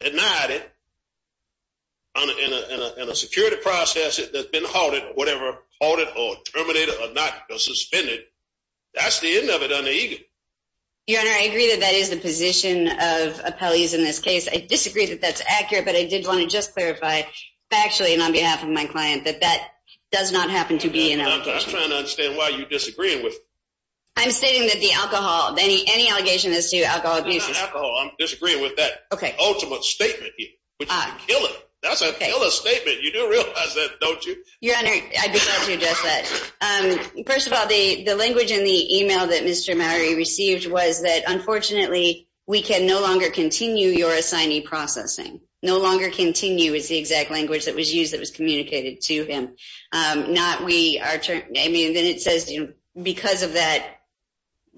denied it, and a security process that's been halted or whatever, halted or terminated or not suspended, that's the end of it under Egan. Your Honor, I agree that that is the position of appellees in this case. I disagree that that's accurate, but I did want to just clarify, factually and on behalf of my client, that that does not happen to be an alcohol. I'm trying to understand why you're disagreeing with me. I'm stating that the alcohol, any allegation as to alcohol abuse is- It's not alcohol. I'm disagreeing with that ultimate statement here, which is a killer. That's a killer statement. You do realize that, don't you? Your Honor, I'd be glad to address that. First of all, the language in the email that Mr. Mowrey received was that, unfortunately, we can no longer continue your assignee processing. No longer continue is the exact language that was used that was communicated to him. Then it says, because of that,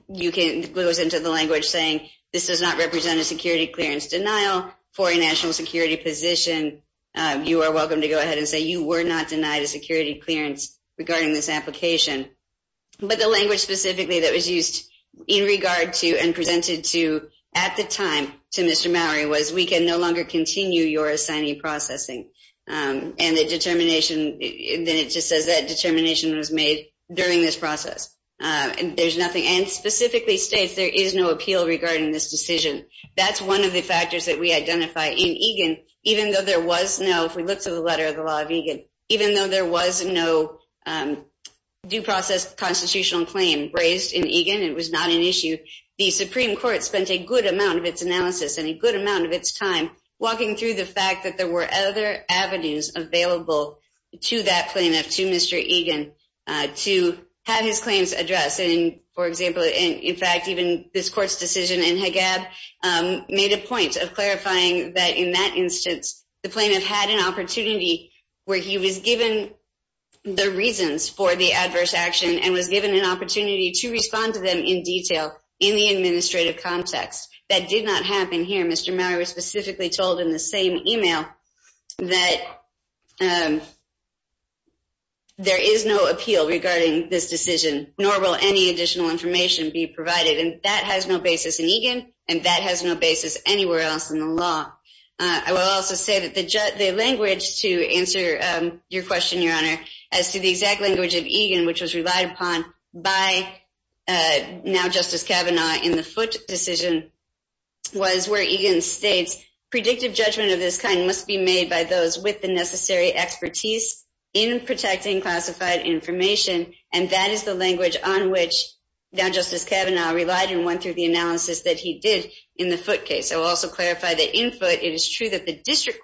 you can glue us into the language saying, this does not represent a security clearance denial for a national security position. You are welcome to go ahead and say you were not denied a security clearance regarding this application. But the language specifically that was used in regard to and presented to, at the time, to Mr. Mowrey was, we can no longer continue your assignee processing. And the determination, then it just says that determination was made during this process. There's nothing, and specifically states there is no appeal regarding this decision. That's one of the factors that we identify in Egan, even though there was no, if we look to the letter of the law of Egan, even though there was no due process constitutional claim raised in Egan, it was not an issue. The Supreme Court spent a good amount of its analysis and a good amount of its time walking through the fact that there were other avenues available to that plaintiff, to Mr. Egan, to have his claims addressed. And for example, in fact, even this court's decision in Haggab made a point of clarifying that in that instance, the plaintiff had an opportunity where he was given the reasons for the adverse action and was given an opportunity to respond to them in detail in the administrative context. That did not happen here. Mr. Mowrey was specifically told in the same email that there is no appeal regarding this decision, nor will any additional information be provided. And that has no basis in Egan, and that has no basis anywhere else in the law. I will also say that the language to answer your question, Your Honor, as to the exact language of Egan, which was relied upon by now Justice Kavanaugh in the Foote decision, was where Egan states, predictive judgment of this kind must be made by those with the necessary expertise in protecting classified information. And that is the language on which now Justice Kavanaugh relied and went through the analysis that he did in the Foote case. I will also clarify that in Foote, it is true that the circuit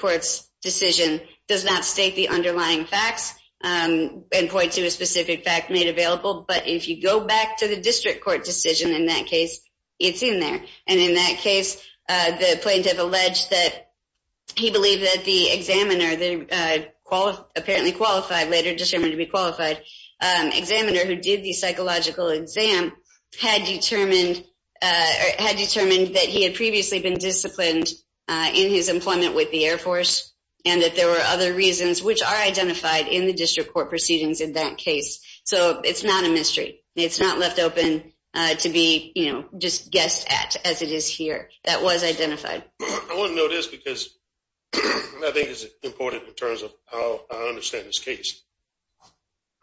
court's decision does not state the underlying facts and point to a specific fact made available. But if you go back to the district court decision in that case, it's in there. And in that case, the plaintiff alleged that he believed that the examiner, apparently qualified, later determined to be qualified, examiner who did the psychological exam had determined that he had previously been disciplined in his employment with the Air Force and that there were other reasons which are identified in the district court proceedings in that case. So it's not a mystery. It's not left open to be just guessed at as it is here. That was identified. I want to know this because I think it's important in terms of how I understand this case.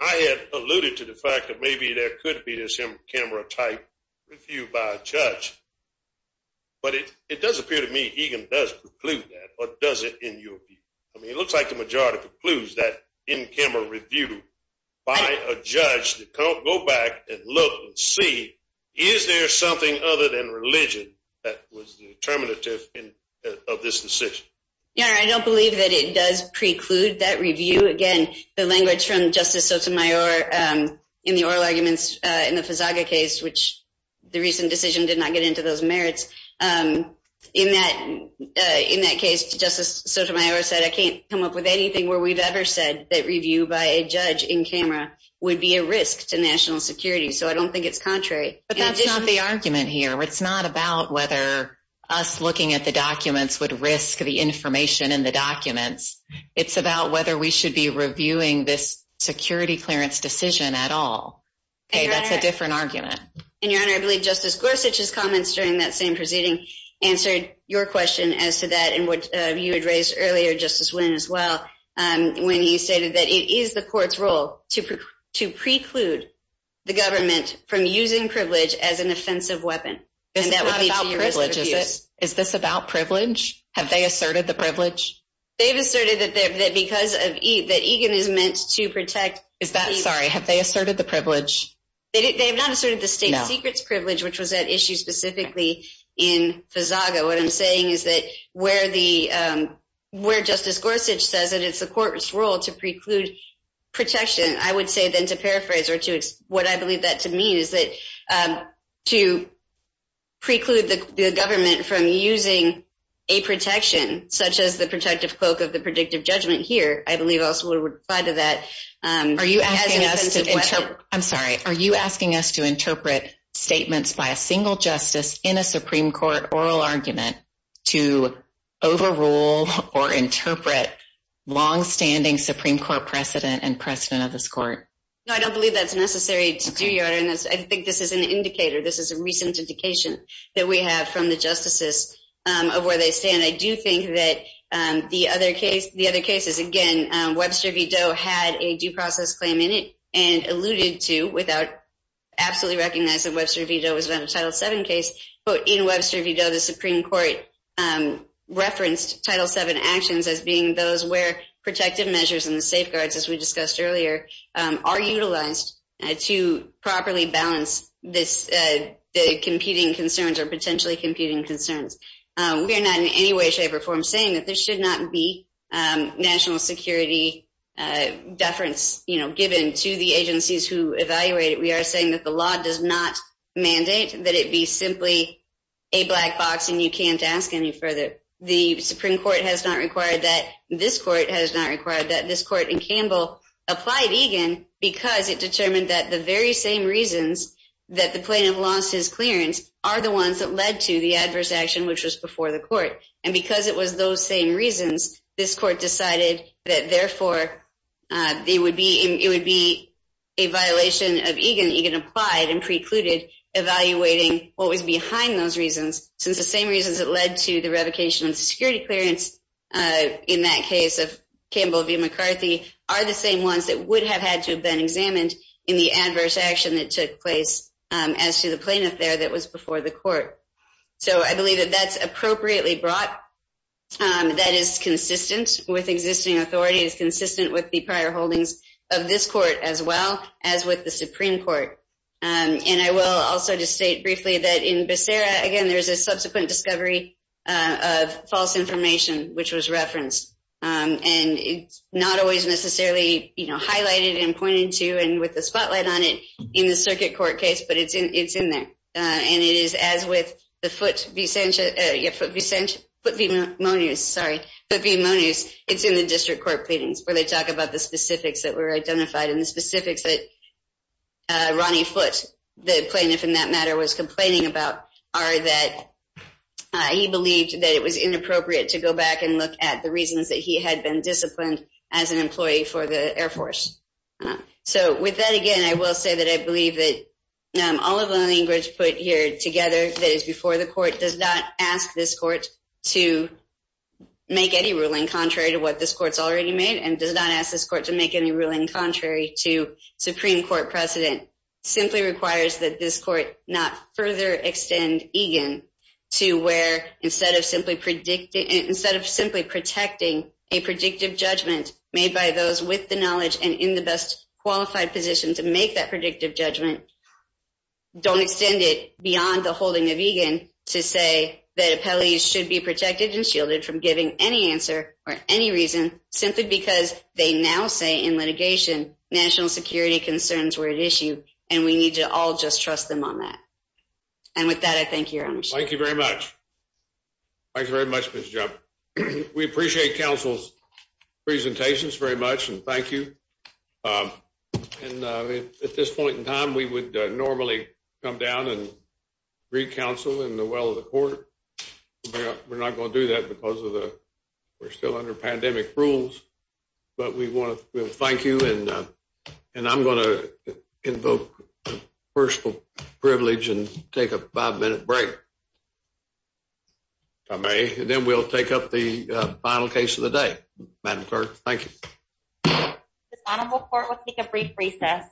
I had alluded to the fact that maybe there could be this in-camera type review by a judge. But it does appear to me Egan does preclude that or does it in your view? I mean, it looks like the majority precludes that in-camera review by a judge to go back and look and see, is there something other than religion that was determinative of this decision? Yeah, I don't believe that it does preclude that review. Again, the language from Justice Sotomayor in the oral arguments in the Fazaga case, which the recent decision did not get into those merits, in that case, Justice Sotomayor said, I can't come up with anything where we've ever said that review by a judge in camera would be a risk to national security. So I don't think it's contrary. But that's not the argument here. It's not about whether us looking at the documents would risk the information in the documents. It's about whether we should be reviewing this security clearance decision at all. That's a different argument. And Your Honor, I believe Justice Gorsuch's comments during that same proceeding answered your question as to that and what you had raised earlier, Justice Wynn as well, when you stated that it is the court's role to preclude the government from using privilege as an offensive weapon. Is this about privilege? Have they asserted the privilege? They've asserted that because of that, Egan is meant to protect. Is that sorry? Have they asserted the privilege? They have not asserted the state secrets privilege, which was at issue specifically in Fazaga. What I'm saying is that where the where Justice Gorsuch says that it's the court's role to preclude protection, I would say then to paraphrase or to what I believe that to mean is that to preclude the government from using a protection, such as the protective cloak of the predictive judgment here, I believe also would apply to that. Are you asking us to interpret? I'm sorry. Are you asking us to interpret statements by a single justice in a Supreme Court oral argument to overrule or interpret longstanding Supreme Court precedent and precedent of this court? No, I don't believe that's necessary to do, Your Honor. I think this is an indicator. This is a recent indication that we have from the justices of where they stand. I do think that the other cases, again, Webster v. Doe had a due process claim in it and alluded to without absolutely recognizing Webster v. Doe was not a Title VII case. But in Webster v. Doe, the Supreme Court referenced Title VII actions as being those where protective measures and the safeguards, as we discussed earlier, are utilized to properly balance the competing concerns or potentially competing concerns. We are not in any way, shape, or form saying that there should not be national security deference given to the agencies who evaluate it. We are saying that the law does not mandate that it be simply a black box and you can't ask any further. The Supreme Court has not required that. This court has not required that. This court in Campbell applied Egan because it determined that the very same reasons that the plaintiff lost his clearance are the ones that led to the adverse action, which was before the court. And because it was those same reasons, this court decided that therefore it would be a violation of Egan. Egan applied and precluded evaluating what was behind those reasons, since the same reasons that led to the revocation of security clearance in that case of Campbell v. McCarthy are the same ones that would have had to have been examined in the adverse action that took place as to the plaintiff there that was before the court. So I believe that that's appropriately brought. That is consistent with existing authority. It's consistent with the prior holdings of this court as well as with the Supreme Court. And I will also just state briefly that in Becerra, again, there's a subsequent discovery of false information, which was referenced. And it's not always necessarily highlighted and pointed to and with the spotlight on it in the circuit court case, but it's in there. And it is as with the Foote v. Monius. It's in the district court pleadings where they talk about the specifics that were identified and the specifics that Ronnie Foote, the plaintiff in that matter, was complaining about are that he believed that it was inappropriate to go back and look at the reasons that he had been disciplined as an employee for the Air Force. So with that, again, I will say that I believe that all of the language put here together that is before the court does not ask this court to make any ruling contrary to what this court's already made and does not ask this court to make any ruling contrary to Supreme Court precedent simply requires that this court not further extend Egan to where instead of simply protecting a predictive judgment made by those with the knowledge and in the best qualified position to make that predictive judgment, don't extend it beyond the holding of Egan to say that appellees should be protected and shielded from giving any answer or any reason simply because they now say in litigation national security concerns were at issue and we need to all just trust them on that. And with that, I thank you, Your Honor. Thank you very much. Thank you very much, Ms. Jump. We appreciate counsel's presentations very much and thank you. And at this point in time, we would normally come down and recounsel in the well of the court. We're not going to do that because of the we're still under pandemic rules, but we want to thank you. And and I'm going to invoke personal privilege and take a five minute break. I may and then we'll take up the final case of the day. Madam Clerk, thank you. Court will take a brief recess.